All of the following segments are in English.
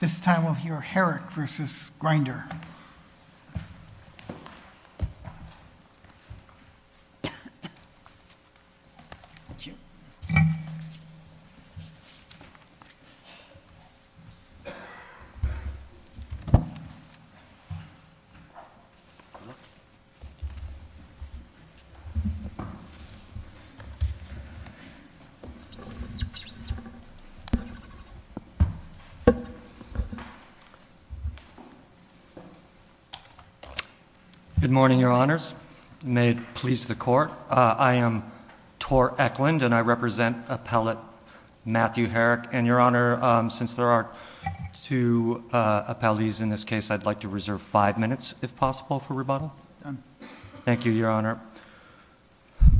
This time we'll hear Herrick v. Grindr. TOR ECKLUND Good morning, Your Honors. May it please the Court, I am Tor Ecklund and I represent appellate Matthew Herrick. And Your Honor, since there are two appellees in this case, I'd like to reserve five minutes if possible for rebuttal. Thank you, Your Honor. THE COURT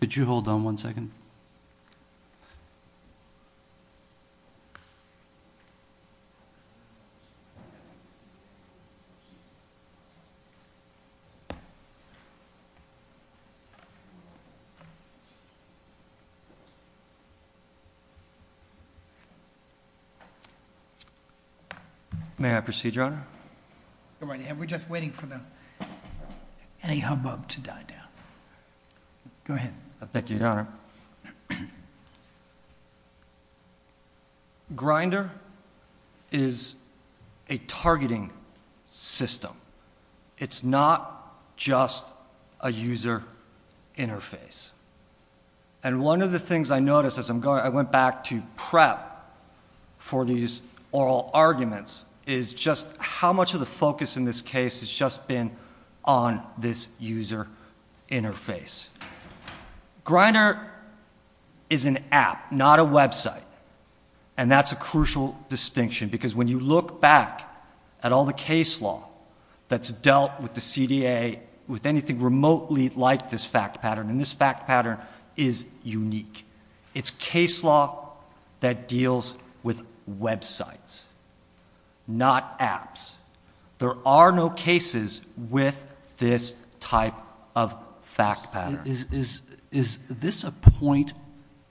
Could you hold on one second? May I proceed, Your Honor? THE COURT We're just waiting for the... any hubbub to die down. Go ahead. TOR ECKLUND Thank you, Your Honor. Grindr is a targeting system. It's not just a user interface. And one of the things I noticed as I went back to PrEP for these oral arguments is just how much of the focus in this case has just been on this user interface. Grindr is an app, not a website. And that's a crucial distinction because when you look back at all the case law that's dealt with the CDA with anything remotely like this fact pattern, and this fact pattern is unique. It's case law that deals with websites, not apps. There are no cases with this type of fact pattern. THE COURT Is this a point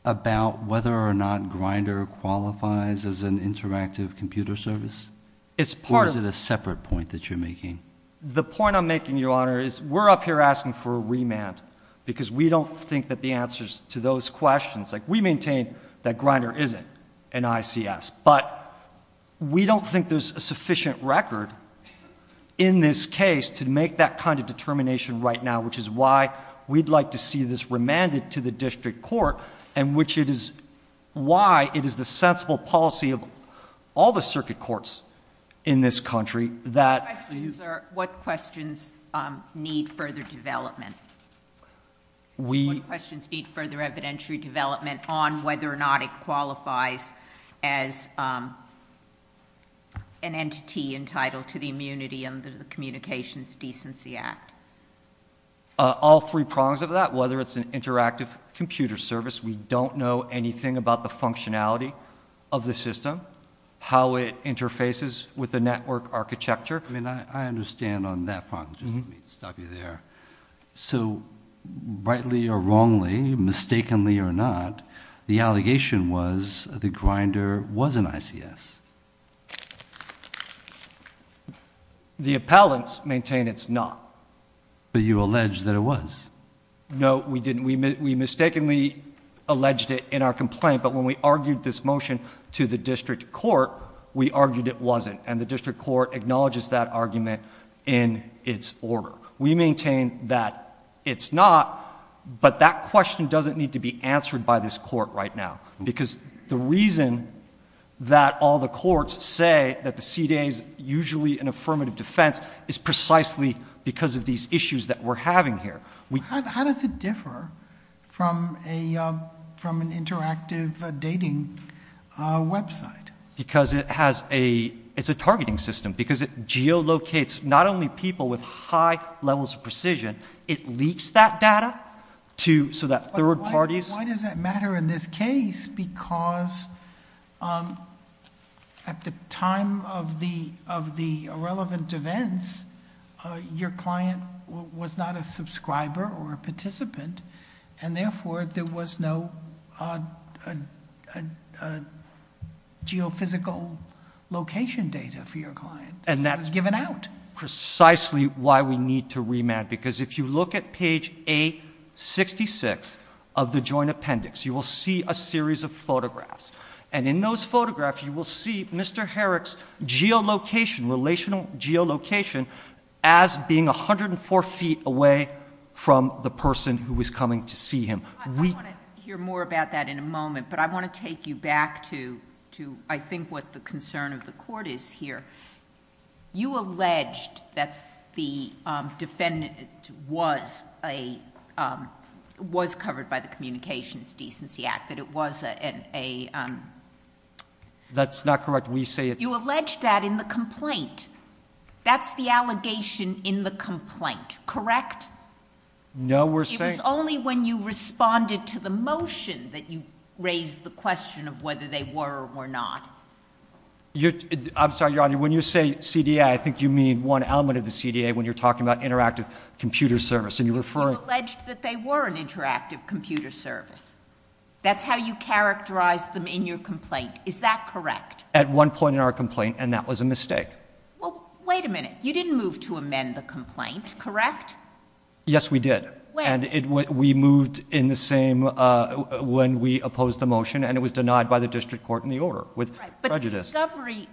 about whether or not Grindr qualifies as an interactive computer service? Or is it a separate point that you're making? TOR ECKLUND The point I'm making, Your Honor, is we're up here asking for a remand because we don't think that the answers to those questions like we maintain that Grindr isn't an ICS. But we don't think there's a sufficient record in this case to make that kind of determination right now, which is why we'd like to see this remanded to the district court, and which it is why it is the sensible policy of all the circuit courts in this country that... THE COURT What questions need further development? TOR ECKLUND We... THE COURT What questions need further evidentiary development on whether or not it qualifies as an entity entitled to the immunity under the Communications Decency Act? TOR ECKLUND All three prongs of that, whether it's an interactive computer service, we don't know anything about the functionality of the system, how it interfaces with the network architecture... THE COURT So rightly or wrongly, mistakenly or not, the allegation was that Grindr was an ICS? TOR ECKLUND The appellants maintain it's not. THE COURT But you allege that it was. TOR ECKLUND No, we didn't. We mistakenly alleged it in our complaint, but when we argued this motion to the district court, we argued it wasn't, and the district court acknowledges that argument in its order. We maintain that it's not, but that question doesn't need to be answered by this court right now, because the reason that all the courts say that the CDA is usually an affirmative defense is precisely because of these issues that we're having here. THE COURT How does it differ from an interactive dating website? TOR ECKLUND It's a targeting system, because it geolocates not only people with high levels of precision, it leaks that data, so that third parties... THE COURT Why does that matter in this case? Because at the time of the irrelevant events, your client was not a subscriber or a participant, and, therefore, there was no geophysical location data for your client. TOR ECKLUND And that's... THE COURT It was given out. TOR ECKLUND Precisely why we need to remand, because if you look at page 866 of the Joint Appendix, you will see a series of photographs, and in those photographs, you will see Mr. Herrick's geolocation, relational geolocation, as being 104 feet away from the person who was coming to see him. JUSTICE GINSBURG I want to hear more about that in a moment, but I want to take you back to, I think, what the concern of the Court is here. You alleged that the defendant was covered by the Communications Decency Act, that it was a... TOR ECKLUND That's not correct. We say it's... JUSTICE GINSBURG No, we're saying... JUSTICE GINSBURG It was only when you responded to the motion that you raised the question of whether they were or were not. TOR ECKLUND I'm sorry, Your Honor, when you say CDA, I think you mean one element of the CDA when you're talking about interactive computer service, and you're referring... JUSTICE GINSBURG You alleged that they were an interactive computer service. That's how you characterized them in your complaint. Is that correct? TOR ECKLUND At one point in our complaint, and that was a mistake. JUSTICE GINSBURG Wait a minute. You didn't move to amend the complaint, correct? TOR ECKLUND Yes, we did. JUSTICE GINSBURG When? TOR ECKLUND We moved in the same... when we opposed the motion, and it was denied by the District Court in the order with prejudice. JUSTICE GINSBURG But the discovery,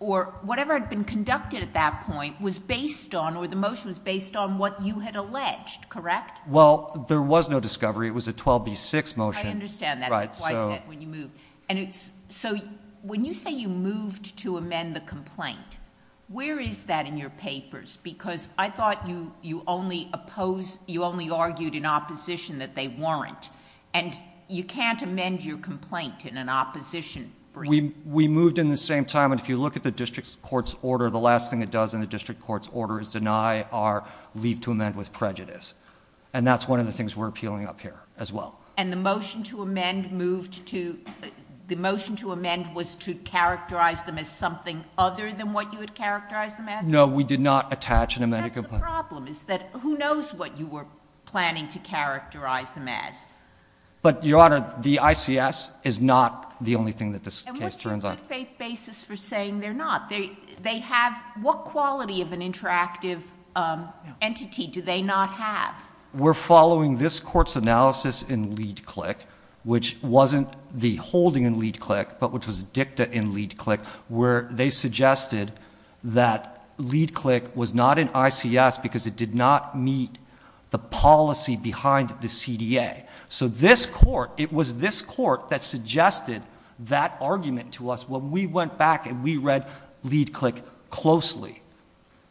or whatever had been conducted at that point, was based on, or the motion was based on, what you had alleged, correct? TOR ECKLUND Well, there was no discovery. It was a 12B6 motion. JUSTICE GINSBURG I understand that. TOR ECKLUND Right, so... JUSTICE GINSBURG That's why I said, when you moved. JUSTICE GINSBURG And it's... so, when you say you moved to amend the complaint, where is that in your papers? Because I thought you only opposed, you only argued in opposition that they weren't, and you can't amend your complaint in an opposition... TOR ECKLUND We moved in the same time, and if you look at the District Court's order, the last thing it does in the District Court's order is deny our leave to amend with prejudice, and that's one of the things we're appealing up here as well. JUSTICE GINSBURG And the motion to amend moved to... the motion to amend was to characterize them as something other than what you had characterized TOR ECKLUND No, we did not attach an amended complaint. JUSTICE GINSBURG That's the problem, is that who knows what you were planning to characterize them as? TOR ECKLUND But, Your Honor, the ICS is not the only thing that this case turns on. JUSTICE GINSBURG And what's your good faith basis for saying they're not? They have... what quality of an interactive entity do they not have? TOR ECKLUND We're following this Court's analysis in LeadClick, which wasn't the holding in LeadClick, but which was dicta in LeadClick, where they suggested that LeadClick was not in ICS because it did not meet the policy behind the CDA. So this Court, it was this Court that suggested that argument to us when we went back and we read LeadClick closely.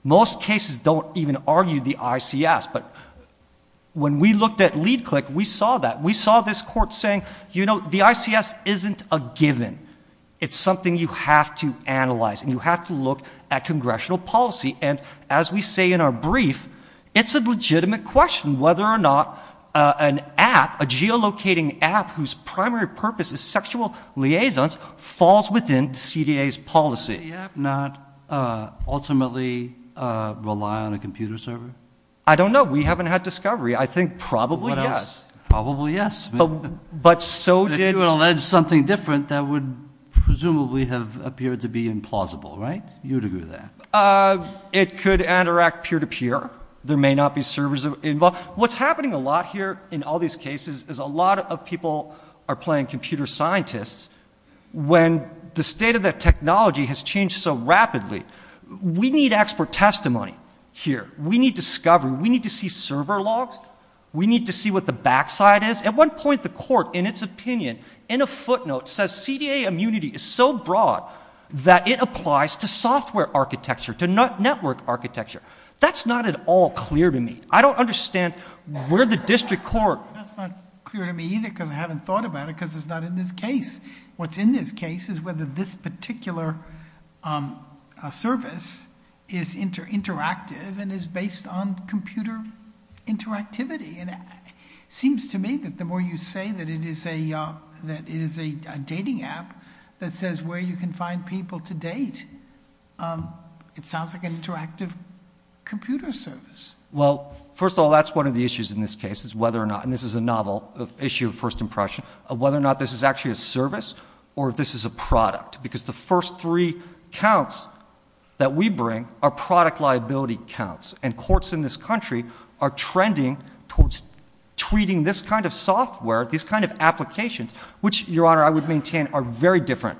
Most cases don't even argue the ICS, but when we looked at LeadClick, we saw that. We saw this Court saying, you know, the ICS isn't a given. It's something you have to analyze and you have to look at congressional policy. And as we say in our brief, it's a legitimate question whether or not an app, a geolocating app whose primary purpose is sexual liaisons, falls within the CDA's policy. JUSTICE BREYER. Does the CDA app not ultimately rely on a computer server? TOR ECKLUND. I don't know. We haven't had discovery. I think probably yes. JUSTICE BREYER. Probably yes. But so did... JUSTICE BREYER. If you would allege something different, that would presumably have appeared to be implausible, right? You would agree with that? TOR ECKLUND. It could interact peer-to-peer. There may not be servers involved. What's happening a lot here in all these cases is a lot of people are playing computer scientists when the state of the technology has changed so rapidly. We need expert testimony here. We need discovery. We need to see server logs. We need to see what the backside is. At one point, the Court, in its opinion, in a footnote, says CDA immunity is so broad that it applies to software architecture, to network architecture. That's not at all clear to me. I don't understand where the district court... JUSTICE BREYER. That's not clear to me either because I haven't thought about it because it's not in this case. What's in this case is whether this particular service is interactive and is based on computer interactivity. And it seems to me that the more you say that it is a dating app that says where you can find people to date, it sounds like an interactive computer service. TOR ECKLUND. Well, first of all, that's one of the issues in this case is whether or not—and this is a novel issue of first impression—of whether or not this is actually a service or if this is a product, because the first three counts that we bring are product liability counts. And courts in this country are trending towards tweeting this kind of software, these kind of applications, which, Your Honor, I would maintain are very different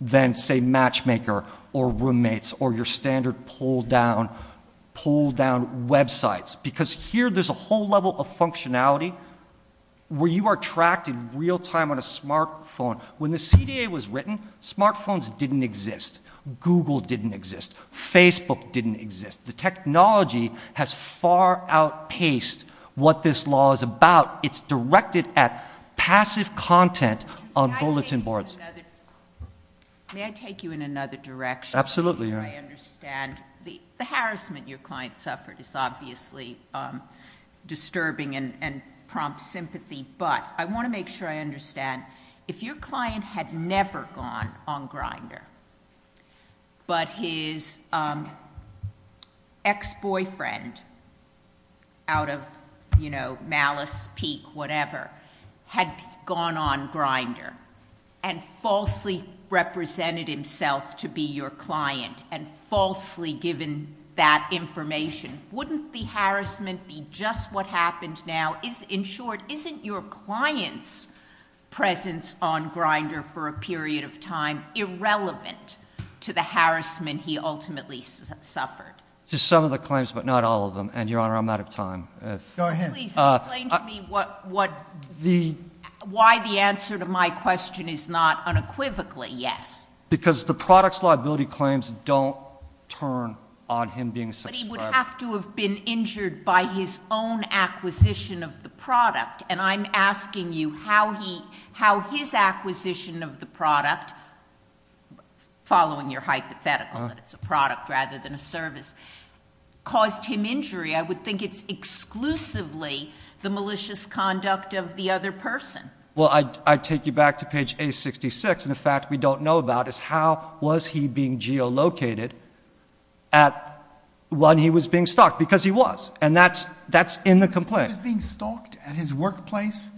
than, say, Matchmaker or Roommates or your standard pull-down websites, because here there's a whole level of functionality where you are tracked in real time on a smartphone. When the CDA was written, smartphones didn't exist. Google didn't exist. Facebook didn't exist. The technology has far outpaced what this law is about. It's directed at passive content on bulletin boards. JUSTICE GINSBURG. May I take you in another direction? TOR ECKLUND. Absolutely. JUSTICE GINSBURG. I understand the harassment your client suffered is obviously disturbing and prompts sympathy, but I want to make sure I understand. If your client had never gone on Grindr but his ex-boyfriend, out of, you know, malice, pique, whatever, had gone on Grindr and falsely represented himself to be your client and falsely given that information, wouldn't the harassment be just what happened now? In short, isn't your client's presence on Grindr for a period of time irrelevant to the harassment he ultimately suffered? TOR ECKLUND. Just some of the claims, but not all of them. And, Your Honor, I'm out of time. JUSTICE SOTOMAYOR. Go ahead. JUSTICE GINSBURG. Please explain to me why the answer to my question is not unequivocally yes. TOR ECKLUND. Because the product's liability claims don't turn on him being a subscriber. JUSTICE GINSBURG. But he would have to have been injured by his own acquisition of the product. And I'm asking you how he, how his acquisition of the product, following your hypothetical that it's a product rather than a service, caused him injury. I would think it's exclusively the malicious conduct of the other person. TOR ECKLUND. Well, I take you back to page 866. And the fact we don't know about is how was he being geolocated at when he was being stalked? Because he was. And that's, that's in the complaint. JUSTICE SOTOMAYOR. He was being stalked at his workplace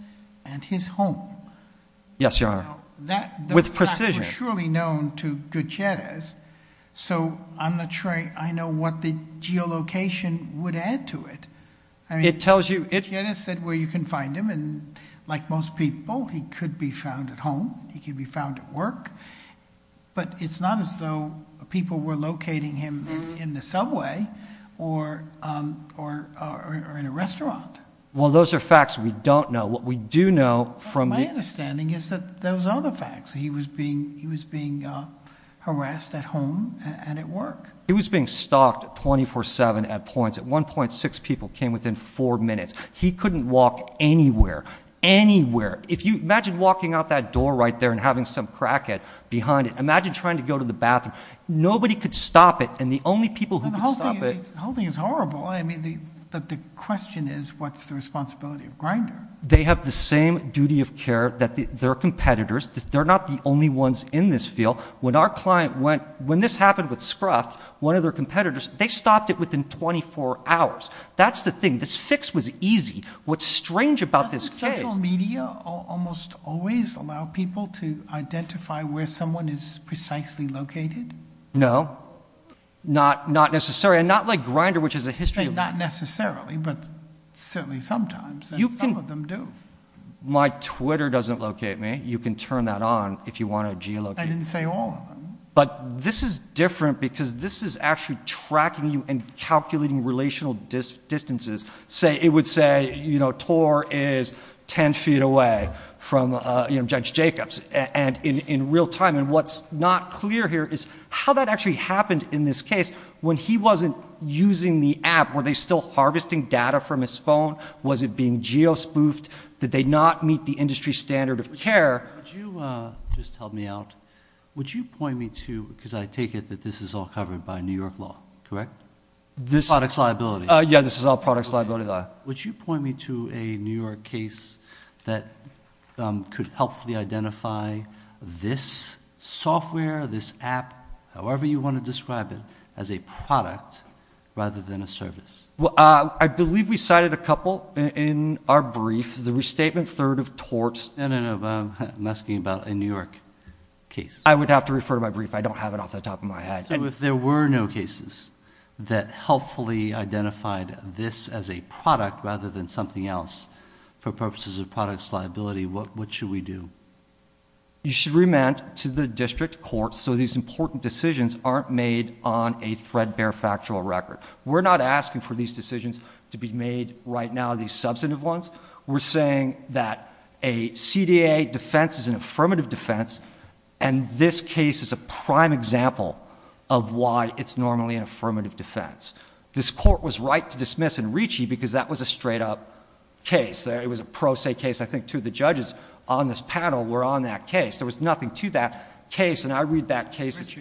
and his home. TOR ECKLUND. Yes, Your Honor. JUSTICE SOTOMAYOR. That fact was surely known to Gutierrez. So I'm not sure I know what the geolocation would add to it. I mean, Gutierrez said where you can find him. And like most people, he could be found at home. He could be found at work. But it's not as though people were locating him in the subway or, or, or in a restaurant. TOR ECKLUND. Well, those are facts we don't know. What we do know from. JUSTICE SOTOMAYOR. My understanding is that those are the facts. He was being, he was being harassed at home and at work. TOR ECKLUND. He was being stalked 24-7 at points. At one point, six people came within four minutes. He couldn't walk anywhere, anywhere. If you imagine walking out that door right there and having some crackhead behind it. Imagine trying to go to the bathroom. Nobody could stop it. And the only people who could stop it. JUSTICE SOTOMAYOR. The whole thing is horrible. I mean, the question is, what's the responsibility of Grindr? TOR ECKLUND. They have the same duty of care that their competitors. They're not the only ones in this field. When our client went, when this happened with Scruff, one of their competitors, they stopped it within 24 hours. That's the thing. This fix was easy. What's strange about this case. Almost always allow people to identify where someone is precisely located. JUSTICE SOTOMAYOR. No, not necessary. And not like Grindr, which has a history. TOR ECKLUND. Not necessarily, but certainly sometimes. And some of them do. JUSTICE SOTOMAYOR. My Twitter doesn't locate me. You can turn that on if you want to geolocate. TOR ECKLUND. I didn't say all of them. JUSTICE SOTOMAYOR. But this is different because this is actually tracking you and calculating relational distances. It would say, you know, TOR is 10 feet away from Judge Jacobs. And in real time. And what's not clear here is how that actually happened in this case. When he wasn't using the app, were they still harvesting data from his phone? Was it being geo-spoofed? Did they not meet the industry standard of care? JUSTICE BREYER. Would you just help me out? Would you point me to, because I take it that this is all covered by New York law, correct? The product's liability. TOR ECKLUND. Yeah, this is all product's liability. JUSTICE BREYER. Would you point me to a New York case that could helpfully identify this software, this app, however you want to describe it, as a product rather than a service? TOR ECKLUND. I believe we cited a couple in our brief. The restatement, third of tort. JUSTICE BREYER. No, no, no, I'm asking about a New York case. TOR ECKLUND. I would have to refer to my brief. I don't have it off the top of my head. If there were no cases that helpfully identified this as a product rather than something else for purposes of product's liability, what should we do? JUSTICE BREYER. You should remand to the district court so these important decisions aren't made on a threadbare factual record. We're not asking for these decisions to be made right now, these substantive ones. We're saying that a CDA defense is an affirmative defense and this case is a prime example of why it's normally an affirmative defense. This Court was right to dismiss in Ricci because that was a straight-up case. It was a pro se case. I think two of the judges on this panel were on that case. There was nothing to that case. And I read that case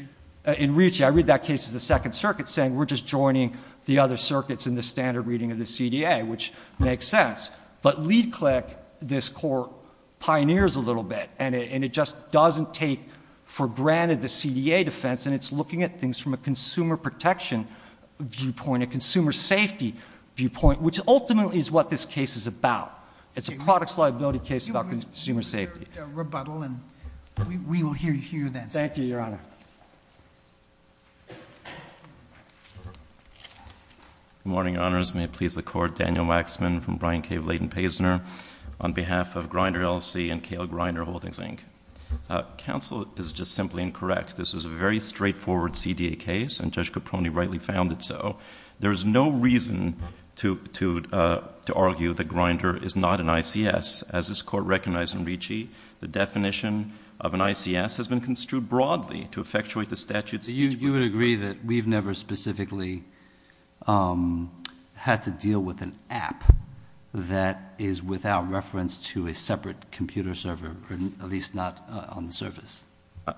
in Ricci, I read that case as the Second Circuit saying we're just joining the other circuits in the standard reading of the CDA, which makes sense. But LeadClick, this Court, pioneers a little bit and it just doesn't take for granted that a CDA defense, and it's looking at things from a consumer protection viewpoint, a consumer safety viewpoint, which ultimately is what this case is about. It's a product's liability case about consumer safety. We will hear your rebuttal and we will hear you then, sir. Thank you, Your Honor. Good morning, Your Honors. May it please the Court. Daniel Waxman from Bryan Cave Leighton-Paysner on behalf of Grinder LLC and Kale Grinder Holdings, Inc. Counsel, it is just simply incorrect. This is a very straightforward CDA case and Judge Caproni rightly found it so. There is no reason to argue that Grinder is not an ICS. As this Court recognized in Ricci, the definition of an ICS has been construed broadly to effectuate the statute. You would agree that we've never specifically had to deal with an app that is without reference to a separate computer server, at least not on the surface?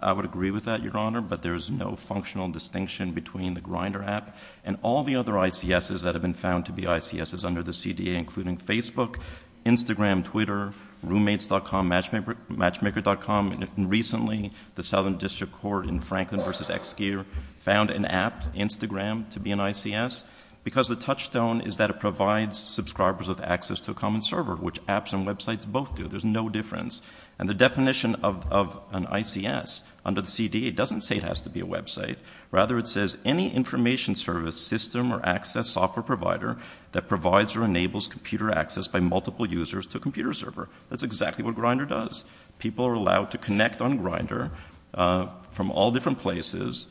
I would agree with that, Your Honor, but there is no functional distinction between the Grinder app and all the other ICSs that have been found to be ICSs under the CDA, including Facebook, Instagram, Twitter, roommates.com, matchmaker.com, and recently the Southern District Court in Franklin v. Exgear found an app, Instagram, to be an ICS because the touchstone is that provides subscribers with access to a common server, which apps and websites both do. There is no difference. And the definition of an ICS under the CDA doesn't say it has to be a website. Rather, it says any information service system or access software provider that provides or enables computer access by multiple users to a computer server. That's exactly what Grinder does. People are allowed to connect on Grinder from all different places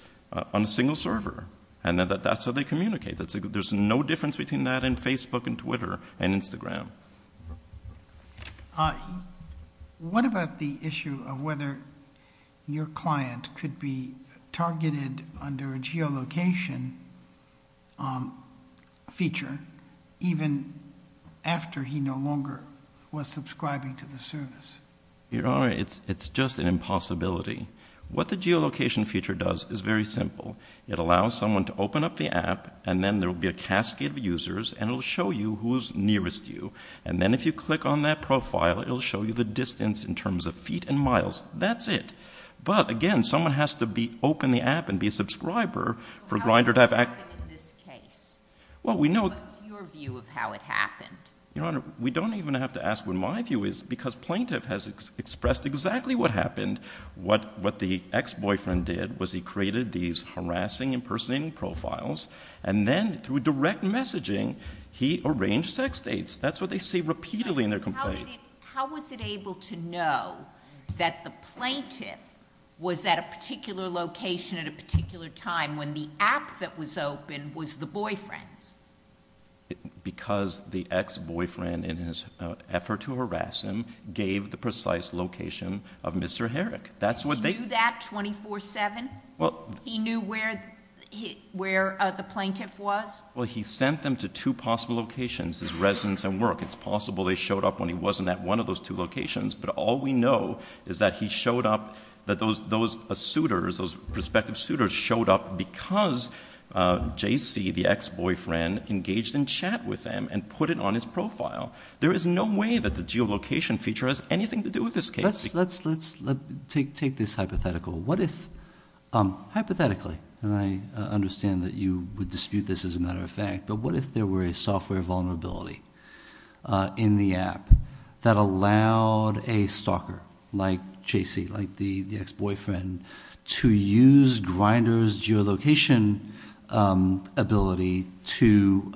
on a single server, and that's how they communicate. There's no difference between that and Facebook and Twitter and Instagram. What about the issue of whether your client could be targeted under a geolocation feature even after he no longer was subscribing to the service? Your Honor, it's just an impossibility. What the geolocation feature does is very simple. It allows someone to open up the app, and then there will be a cascade of users, and it will show you who is nearest you. And then if you click on that profile, it will show you the distance in terms of feet and miles. That's it. But again, someone has to open the app and be a subscriber for Grinder to have access. How did that happen in this case? What's your view of how it happened? Your Honor, we don't even have to ask what my view is because plaintiff has expressed exactly what happened. What the ex-boyfriend did was he created these harassing impersonating profiles, and then through direct messaging, he arranged sex dates. That's what they say repeatedly in their complaint. How was it able to know that the plaintiff was at a particular location at a particular time when the app that was open was the boyfriend's? Because the ex-boyfriend, in his effort to harass him, gave the precise location of Mr. Herrick. He knew that 24-7? He knew where the plaintiff was? Well, he sent them to two possible locations, his residence and work. It's possible they showed up when he wasn't at one of those two locations, but all we know is that he showed up, that those suitors, those prospective suitors showed up because J.C., the ex-boyfriend, engaged in chat with him and put it on his profile. There is no way that the geolocation feature has anything to do with this case. Let's take this hypothetical. What if, hypothetically, and I understand that you would dispute this as a matter of fact, but what if there were a software vulnerability in the app that allowed a stalker like J.C., like the ex-boyfriend, to use Grindr's geolocation ability to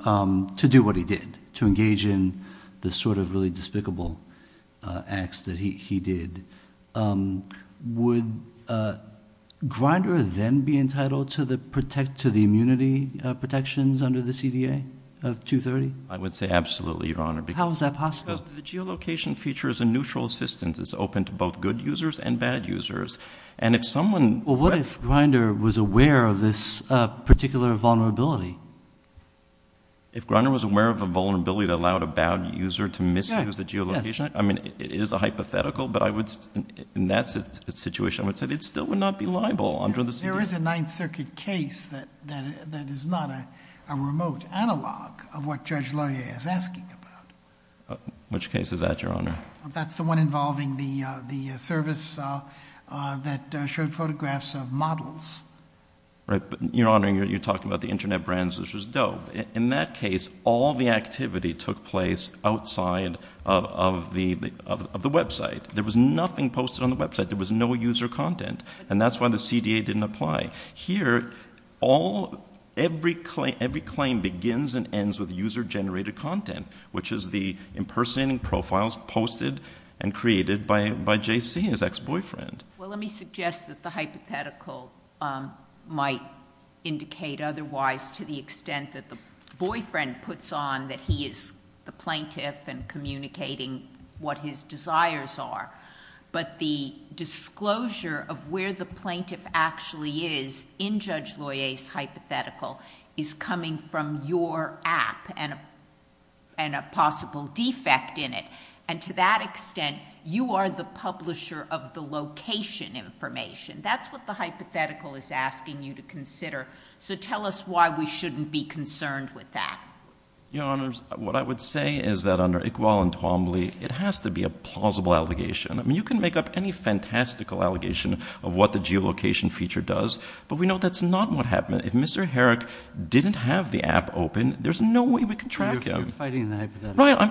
do what he did? To engage in the sort of really despicable acts that he did. Would Grindr then be entitled to the immunity protections under the CDA of 230? I would say absolutely, Your Honor. How is that possible? The geolocation feature is a neutral assistance. It's open to both good users and bad users. And if someone... Well, what if Grindr was aware of this particular vulnerability? If Grindr was aware of a vulnerability that allowed a bad user to misuse the geolocation, I mean, it is a hypothetical, but I would, in that situation, I would say it still would not be liable under the CDA. There is a Ninth Circuit case that is not a remote analog of what Judge Lawyer is asking about. Which case is that, Your Honor? That's the one involving the service that showed photographs of models. Right, but, Your Honor, you're talking about the internet brands, which was dope. In that case, all the activity took place outside of the website. There was nothing posted on the website. There was no user content. And that's why the CDA didn't apply. Here, every claim begins and ends with user-generated content, which is the impersonating profiles posted and created by J.C., his ex-boyfriend. Well, let me suggest that the hypothetical might indicate otherwise to the extent that the boyfriend puts on that he is the plaintiff and communicating what his desires are. But the disclosure of where the plaintiff actually is in Judge Lawyer's hypothetical is coming from your app and a possible defect in it. And to that extent, you are the publisher of the location information. That's what the hypothetical is asking you to consider. So tell us why we shouldn't be concerned with that. Your Honors, what I would say is that under Iqbal and Twombly, it has to be a plausible allegation. I mean, you can make up any fantastical allegation of what the geolocation feature does, but we know that's not what happened. If Mr. Herrick didn't have the app open, there's no way we could track him. You're fighting the hypothetical. Right, I'm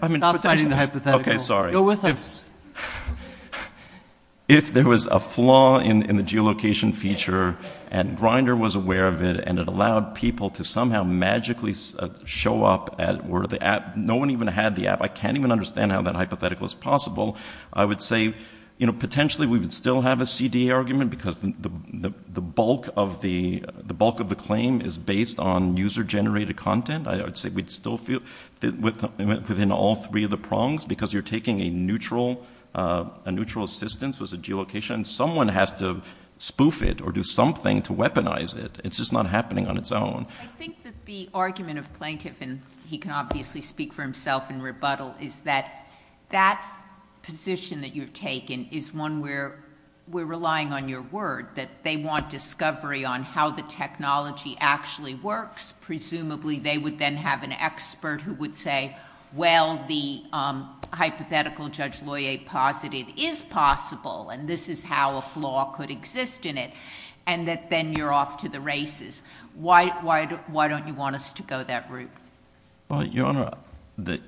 fighting— Stop fighting the hypothetical. Okay, sorry. If there was a flaw in the geolocation feature and Grindr was aware of it and it allowed people to somehow magically show up at where the app—no one even had the app. I can't even understand how that hypothetical is possible. I would say, you know, potentially we would still have a CDA argument because the bulk of the—the bulk of the claim is based on user-generated content. I would say we'd still feel within all three of the prongs because you're taking a neutral assistance with the geolocation. Someone has to spoof it or do something to weaponize it. It's just not happening on its own. I think that the argument of plaintiff—and he can obviously speak for himself in rebuttal—is that that position that you've taken is one where we're relying on your word, that they want discovery on how the technology actually works. Presumably, they would then have an expert who would say, well, the hypothetical Judge Loyer posited is possible and this is how a flaw could exist in it and that then you're off to the races. Why don't you want us to go that route? Well, Your Honor, the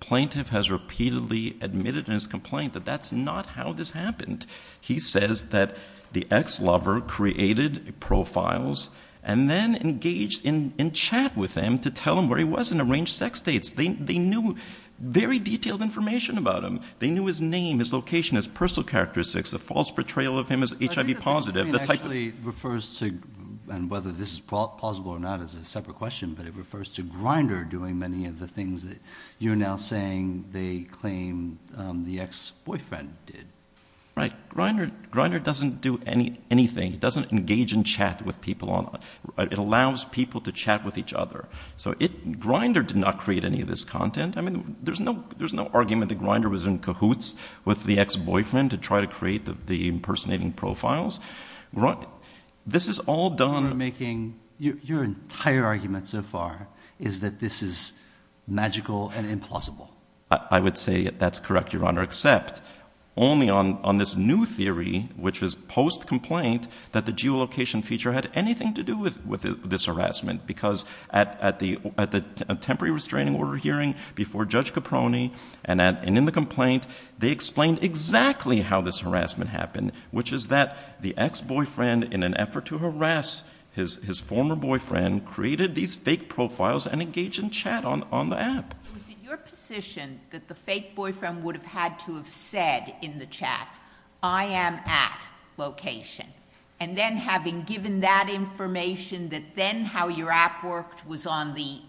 plaintiff has repeatedly admitted in his complaint that that's not how this happened. He says that the ex-lover created profiles and then engaged in chat with him to tell him where he was and arranged sex dates. They knew very detailed information about him. They knew his name, his location, his personal characteristics, a false portrayal of him as HIV-positive. I think that that actually refers to—and whether this is plausible or not is a separate question—but it refers to Grindr doing many of the things that you're now saying they claim the ex-boyfriend did. Right. Grindr doesn't do anything. It doesn't engage in chat with people. It allows people to chat with each other. So Grindr did not create any of this content. I mean, there's no argument that Grindr was in cahoots with the ex-boyfriend to try to create the impersonating profiles. This is all done— You're making—your entire argument so far is that this is magical and implausible. I would say that's correct, Your Honor. Except only on this new theory, which was post-complaint, that the geolocation feature had anything to do with this harassment. Because at the temporary restraining order hearing before Judge Caproni and in the complaint, they explained exactly how this harassment happened, which is that the ex-boyfriend, in an effort to harass his former boyfriend, created these fake profiles and engaged in chat on the app. Was it your position that the fake boyfriend would have had to have said in the chat, I am at location, and then having given that information that then how your app worked was on the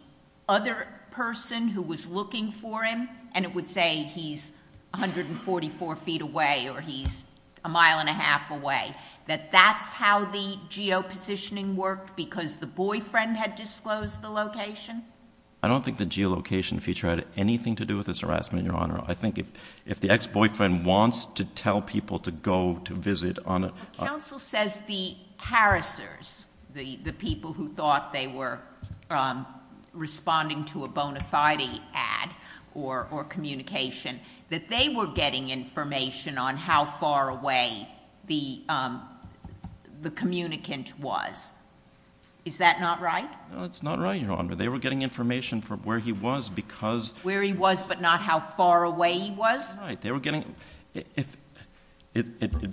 other person who was looking for him, and it would say he's 144 feet away or he's a mile and a half away, that that's how the geopositioning worked because the boyfriend had disclosed the location? I don't think the geolocation feature had anything to do with this harassment, Your Honor. I think if the ex-boyfriend wants to tell people to go to visit on a— But counsel says the harassers, the people who thought they were responding to a bona fide ad or communication, that they were getting information on how far away the communicant was. Is that not right? No, it's not right, Your Honor. They were getting information from where he was because— Where he was, but not how far away he was? That's right. They were getting—it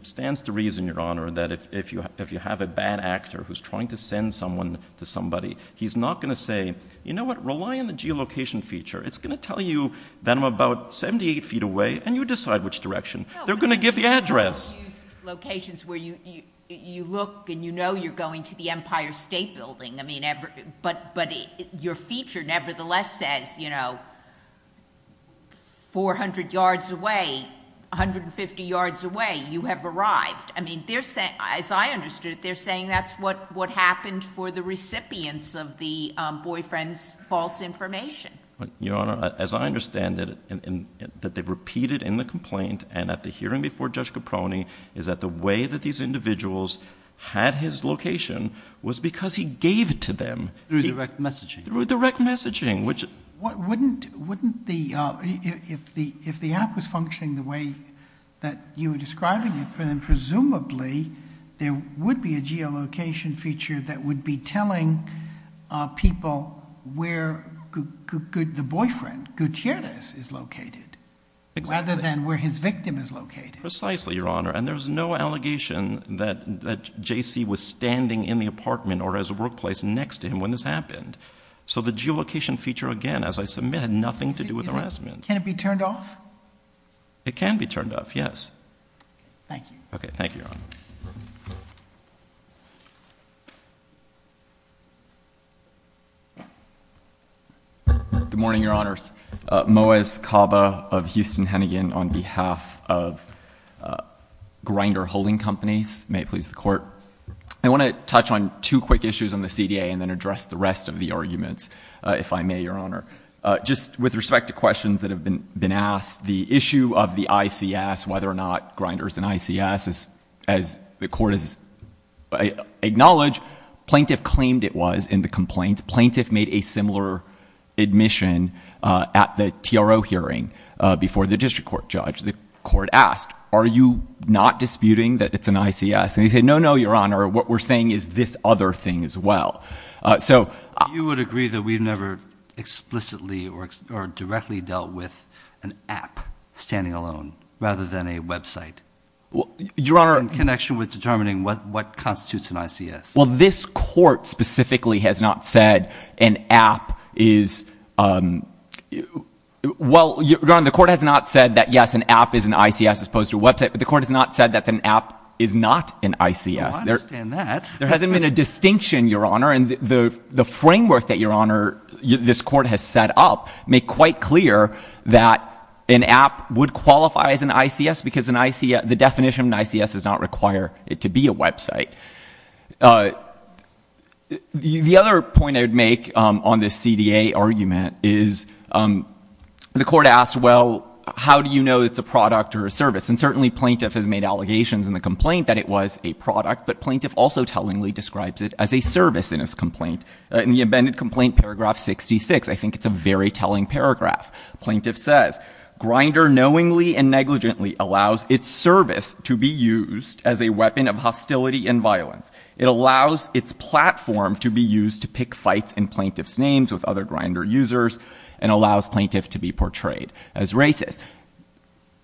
stands to reason, Your Honor, that if you have a bad actor who's trying to send someone to somebody, he's not going to say, you know what, rely on the geolocation feature. It's going to tell you that I'm about 78 feet away, and you decide which direction. They're going to give the address. No, but I've never used locations where you look and you know you're going to the Empire State Building. I mean, but your feature nevertheless says, you know, 400 yards away, 150 yards away, you have arrived. I mean, they're saying, as I understood it, they're saying that's what happened for the recipients of the boyfriend's false information. Your Honor, as I understand it, that they repeated in the complaint and at the hearing before Judge Caproni is that the way that these individuals had his location was because he gave it to them. Through direct messaging. Through direct messaging, which— Wouldn't the—if the app was functioning the way that you were describing it, then presumably there would be a geolocation feature that would be telling people where the boyfriend, Gutierrez, is located rather than where his victim is located. Precisely, Your Honor, and there's no allegation that J.C. was standing in the apartment or his workplace next to him when this happened. So the geolocation feature, again, as I submit, had nothing to do with harassment. Can it be turned off? It can be turned off, yes. Thank you. Okay. Thank you, Your Honor. Good morning, Your Honors. Moez Caba of Houston Hennigan on behalf of Grinder Holding Companies. May it please the Court. I want to touch on two quick issues on the CDA and then address the rest of the arguments, if I may, Your Honor. Just with respect to questions that have been asked, the issue of the ICS, whether or not Grinder is an ICS, as the Court has acknowledged, plaintiff claimed it was in the complaint. Plaintiff made a similar admission at the TRO hearing before the district court judge. The Court asked, are you not disputing that it's an ICS? And he said, no, no, Your Honor, what we're saying is this other thing as well. You would agree that we've never explicitly or directly dealt with an app standing alone rather than a website in connection with determining what constitutes an ICS? Well, this Court specifically has not said an app is — well, Your Honor, the Court has not said that, yes, an app is an ICS as opposed to a website, but the Court has not said that an app is not an ICS. Well, I understand that. There hasn't been a distinction, Your Honor, and the framework that, Your Honor, this Court has set up make quite clear that an app would qualify as an ICS because the definition of an ICS does not require it to be a website. The other point I would make on this CDA argument is the Court asked, well, how do you know it's a product or a service? And certainly, plaintiff has made allegations in the complaint that it was a product, but plaintiff also tellingly describes it as a service in his complaint — in the amended complaint paragraph 66. I think it's a very telling paragraph. Plaintiff says, grinder knowingly and negligently allows its service to be used as a weapon of hostility and violence. It allows its platform to be used to pick fights in plaintiff's names with other grinder users and allows plaintiff to be portrayed as racist.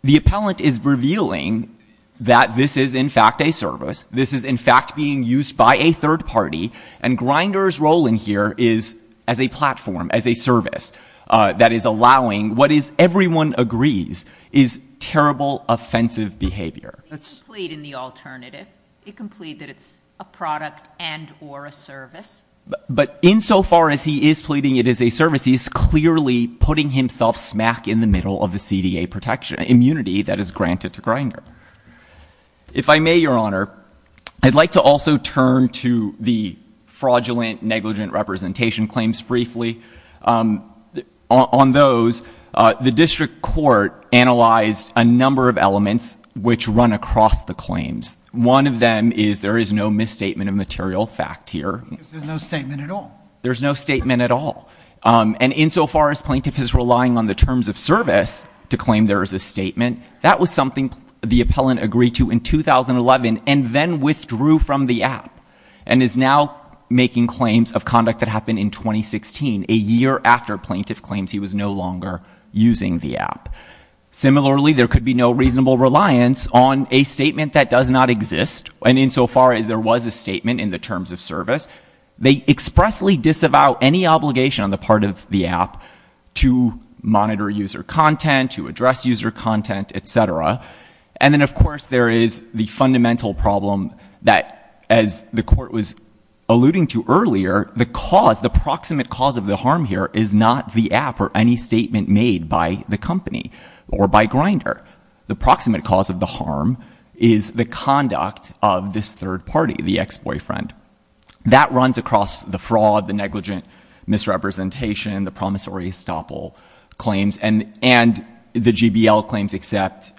The appellant is revealing that this is, in fact, a service. This is, in fact, being used by a third party. And grinder's role in here is as a platform, as a service, that is allowing what is — everyone agrees is terrible, offensive behavior. It can plead in the alternative. It can plead that it's a product and or a service. But insofar as he is pleading it is a service, he is clearly putting himself smack in the middle of the CDA protection — immunity that is granted to grinder. If I may, Your Honor, I'd like to also turn to the fraudulent, negligent representation claims briefly. On those, the district court analyzed a number of elements which run across the claims. One of them is there is no misstatement of material fact here. There's no statement at all? There's no statement at all. And insofar as plaintiff is relying on the terms of service to claim there is a statement, that was something the appellant agreed to in 2011 and then withdrew from the app and is now making claims of conduct that happened in 2016, a year after plaintiff claims he was no longer using the app. Similarly, there could be no reasonable reliance on a statement that does not exist. And insofar as there was a statement in the terms of service, they expressly disavow any obligation on the part of the app to monitor user content, to address user content, etc. And then, of course, there is the fundamental problem that, as the court was alluding to earlier, the cause, the proximate cause of the harm here is not the app or any statement made by the company or by grinder. The proximate cause of the harm is the conduct of this third party, the ex-boyfriend. That runs across the fraud, the negligent misrepresentation, the promissory estoppel claims, and the GBL claims except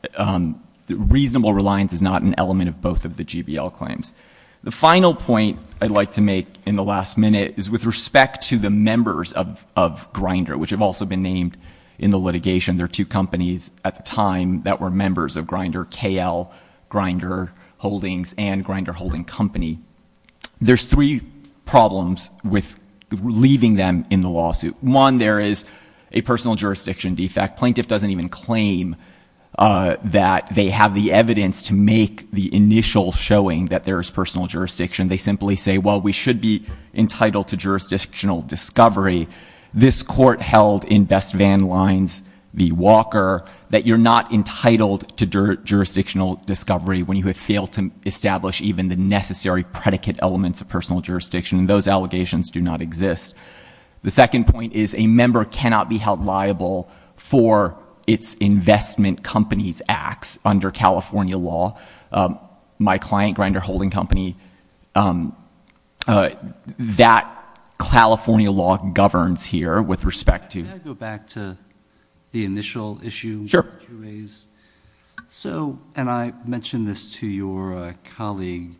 reasonable reliance is not an element of both of the GBL claims. The final point I'd like to make in the last minute is with respect to the members of Grindr, which have also been named in the litigation, there are two companies at the time that were members of Grindr, KL, Grindr Holdings, and Grindr Holding Company. There's three problems with leaving them in the lawsuit. One, there is a personal jurisdiction defect. Plaintiff doesn't even claim that they have the evidence to make the initial showing that there is personal jurisdiction. They simply say, well, we should be entitled to jurisdictional discovery. This court held in Best Van Lines v Walker that you're not entitled to jurisdictional discovery when you have failed to establish even the necessary predicate elements of personal jurisdiction, and those allegations do not exist. The second point is a member cannot be held liable for its investment company's acts under California law. My client, Grindr Holding Company, that California law governs here with respect to- Can I go back to the initial issue that you raised? Sure. So, and I mentioned this to your colleague,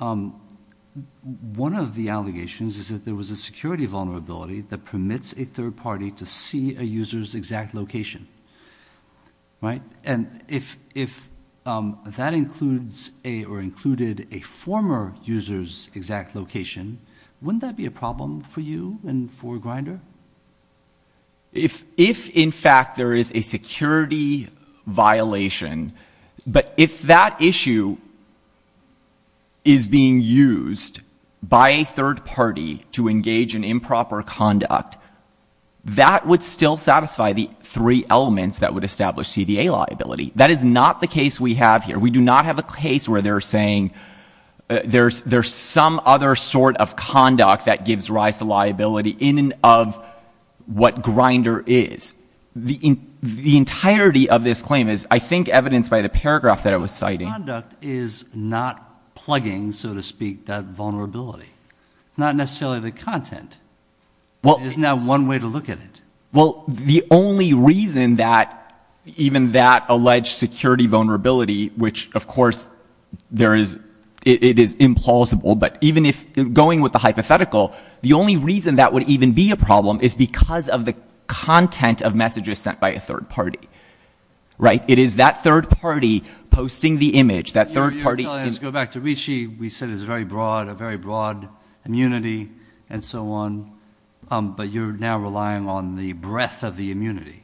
one of the allegations is that there was a security vulnerability that permits a third party to see a user's exact location. Right? And if that includes a, or included a former user's exact location, wouldn't that be a problem for you and for Grindr? If, in fact, there is a security violation, but if that issue is being used by a third party to engage in improper conduct, that would still satisfy the three elements that would establish CDA liability. That is not the case we have here. We do not have a case where they're saying there's some other sort of conduct that gives rise to liability in and of what Grindr is. The entirety of this claim is, I think, evidenced by the paragraph that I was citing. Conduct is not plugging, so to speak, that vulnerability. It's not necessarily the content. It is now one way to look at it. Well, the only reason that even that alleged security vulnerability, which, of course, it is implausible. But even if, going with the hypothetical, the only reason that would even be a problem is because of the content of messages sent by a third party. Right? It is that third party posting the image. That third party- Let's go back to Ricci. We said it's a very broad immunity and so on, but you're now relying on the breadth of the immunity.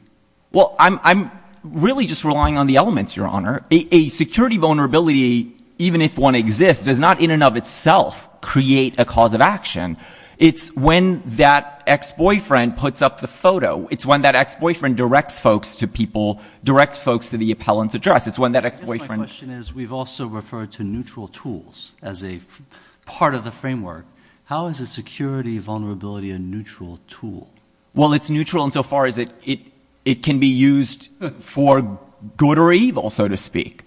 Well, I'm really just relying on the elements, Your Honor. A security vulnerability, even if one exists, does not in and of itself create a cause of action. It's when that ex-boyfriend puts up the photo. It's when that ex-boyfriend directs folks to the appellant's address. It's when that ex-boyfriend- My question is, we've also referred to neutral tools as a part of the framework. How is a security vulnerability a neutral tool? Well, it's neutral in so far as it can be used for good or evil, so to speak.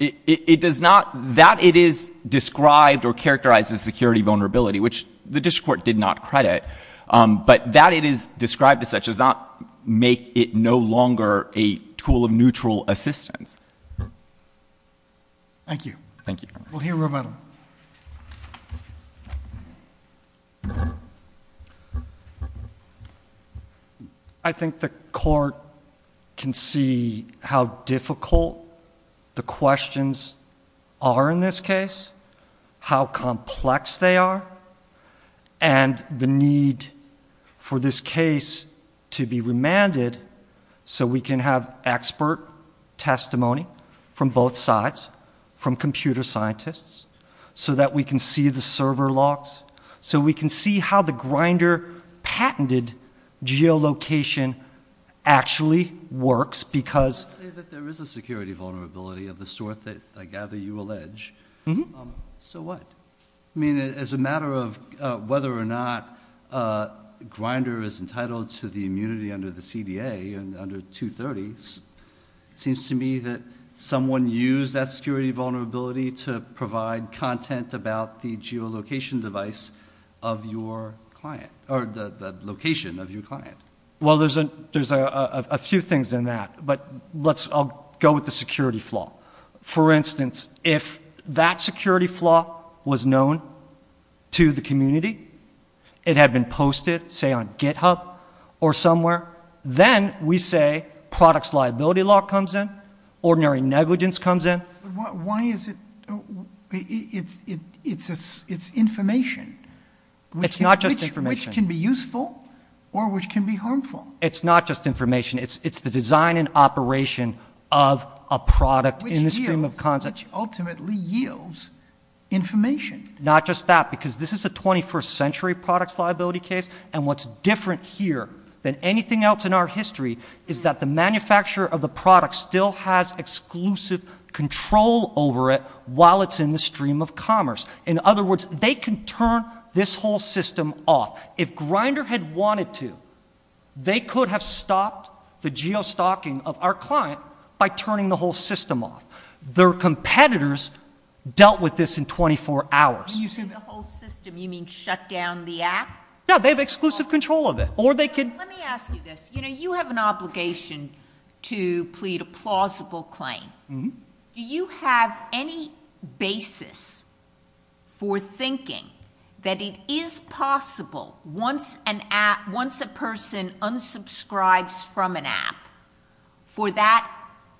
It does not, that it is described or characterizes security vulnerability, which the district court did not credit. But that it is described as such does not make it no longer a tool of neutral assistance. Thank you. Thank you. We'll hear from him. I think the court can see how difficult the questions are in this case, how complex they are, and the need for this case to be remanded so we can have expert testimony from both sides, from computer scientists, so that we can see the server locks, so we can see how the Grindr patented geolocation actually works because- I would say that there is a security vulnerability of the sort that I gather you allege. So what? I mean, as a matter of whether or not Grindr is entitled to the immunity under the CDA under 230, it seems to me that someone used that security vulnerability to provide content about the geolocation device of your client, or the location of your client. Well, there's a few things in that, but I'll go with the security flaw. For instance, if that security flaw was known to the community, it had been posted, say, on GitHub or somewhere, then we say products liability law comes in, ordinary negligence comes in. Why is it- it's information. It's not just information. Which can be useful or which can be harmful. It's not just information. It's the design and operation of a product in the stream of content. Which ultimately yields information. Not just that, because this is a 21st century products liability case, and what's different here than anything else in our history is that the manufacturer of the product still has exclusive control over it while it's in the stream of commerce. In other words, they can turn this whole system off. If Grindr had wanted to, they could have stopped the geostocking of our client by turning the whole system off. Their competitors dealt with this in 24 hours. When you say the whole system, you mean shut down the app? No, they have exclusive control of it. Or they could- Let me ask you this. You know, you have an obligation to plead a plausible claim. Do you have any basis for thinking that it is possible once an app- once a person unsubscribes from an app, for that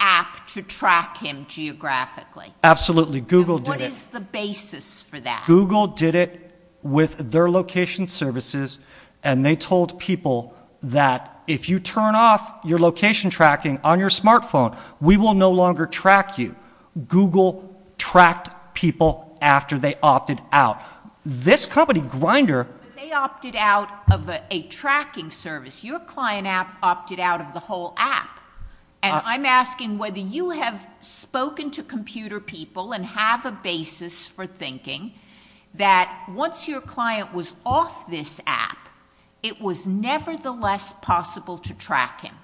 app to track him geographically? Absolutely. Google did it. What is the basis for that? Google did it with their location services, and they told people that if you turn off your location tracking on your smartphone, we will no longer track you. Google tracked people after they opted out. This company, Grindr- They opted out of a tracking service. Your client app opted out of the whole app. And I'm asking whether you have spoken to computer people and have a basis for thinking that once your client was off this app, it was nevertheless possible to track him.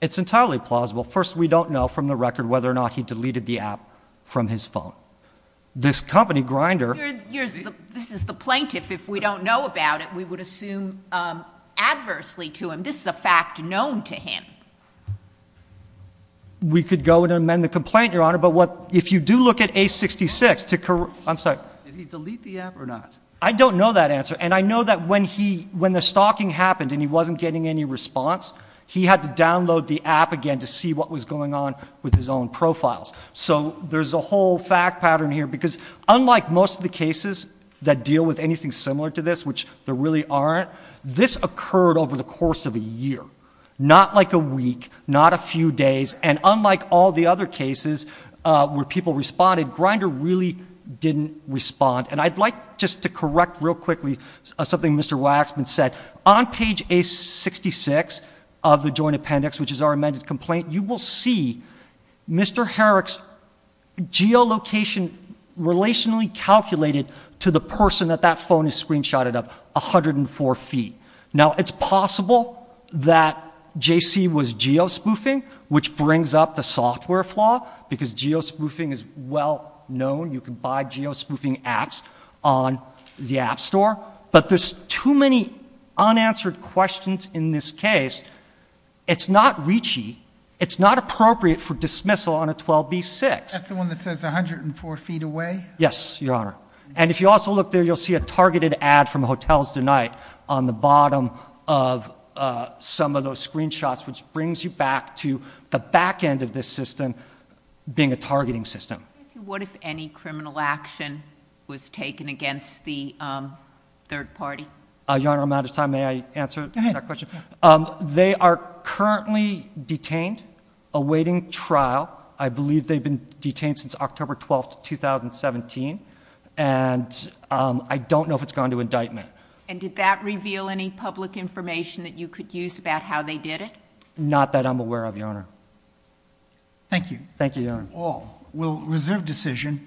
It's entirely plausible. First, we don't know from the record whether or not he deleted the app from his phone. This company, Grindr- You're- you're- this is the plaintiff. If we don't know about it, we would assume adversely to him. This is a fact known to him. We could go and amend the complaint, Your Honor, but what- if you do look at A66 to corre- I'm sorry. Did he delete the app or not? I don't know that answer, and I know that when he- when the stalking happened and he wasn't getting any response, he had to download the app again to see what was going on with his own profiles. So there's a whole fact pattern here, because unlike most of the cases that deal with anything similar to this, which there really aren't, this occurred over the course of a year, not like a week, not a few days. And unlike all the other cases where people responded, Grindr really didn't respond. And I'd like just to correct real quickly something Mr. Waxman said. On page A66 of the joint appendix, which is our amended complaint, you will see Mr. Herrick's geolocation relationally calculated to the person that that phone is screenshotted of, 104 feet. Now, it's possible that JC was geospoofing, which brings up the software flaw, because geospoofing is well known, you can buy geospoofing apps on the app store. But there's too many unanswered questions in this case. It's not reachy. It's not appropriate for dismissal on a 12B6. That's the one that says 104 feet away? Yes, Your Honor. And if you also look there, you'll see a targeted ad from Hotels Tonight on the bottom of some of those screenshots, which brings you back to the back end of this system being a targeting system. What if any criminal action was taken against the third party? Your Honor, I'm out of time. May I answer that question? They are currently detained, awaiting trial. I believe they've been detained since October 12th, 2017, and I don't know if it's gone to indictment. And did that reveal any public information that you could use about how they did it? Not that I'm aware of, Your Honor. Thank you. Thank you, Your Honor. All will reserve decision.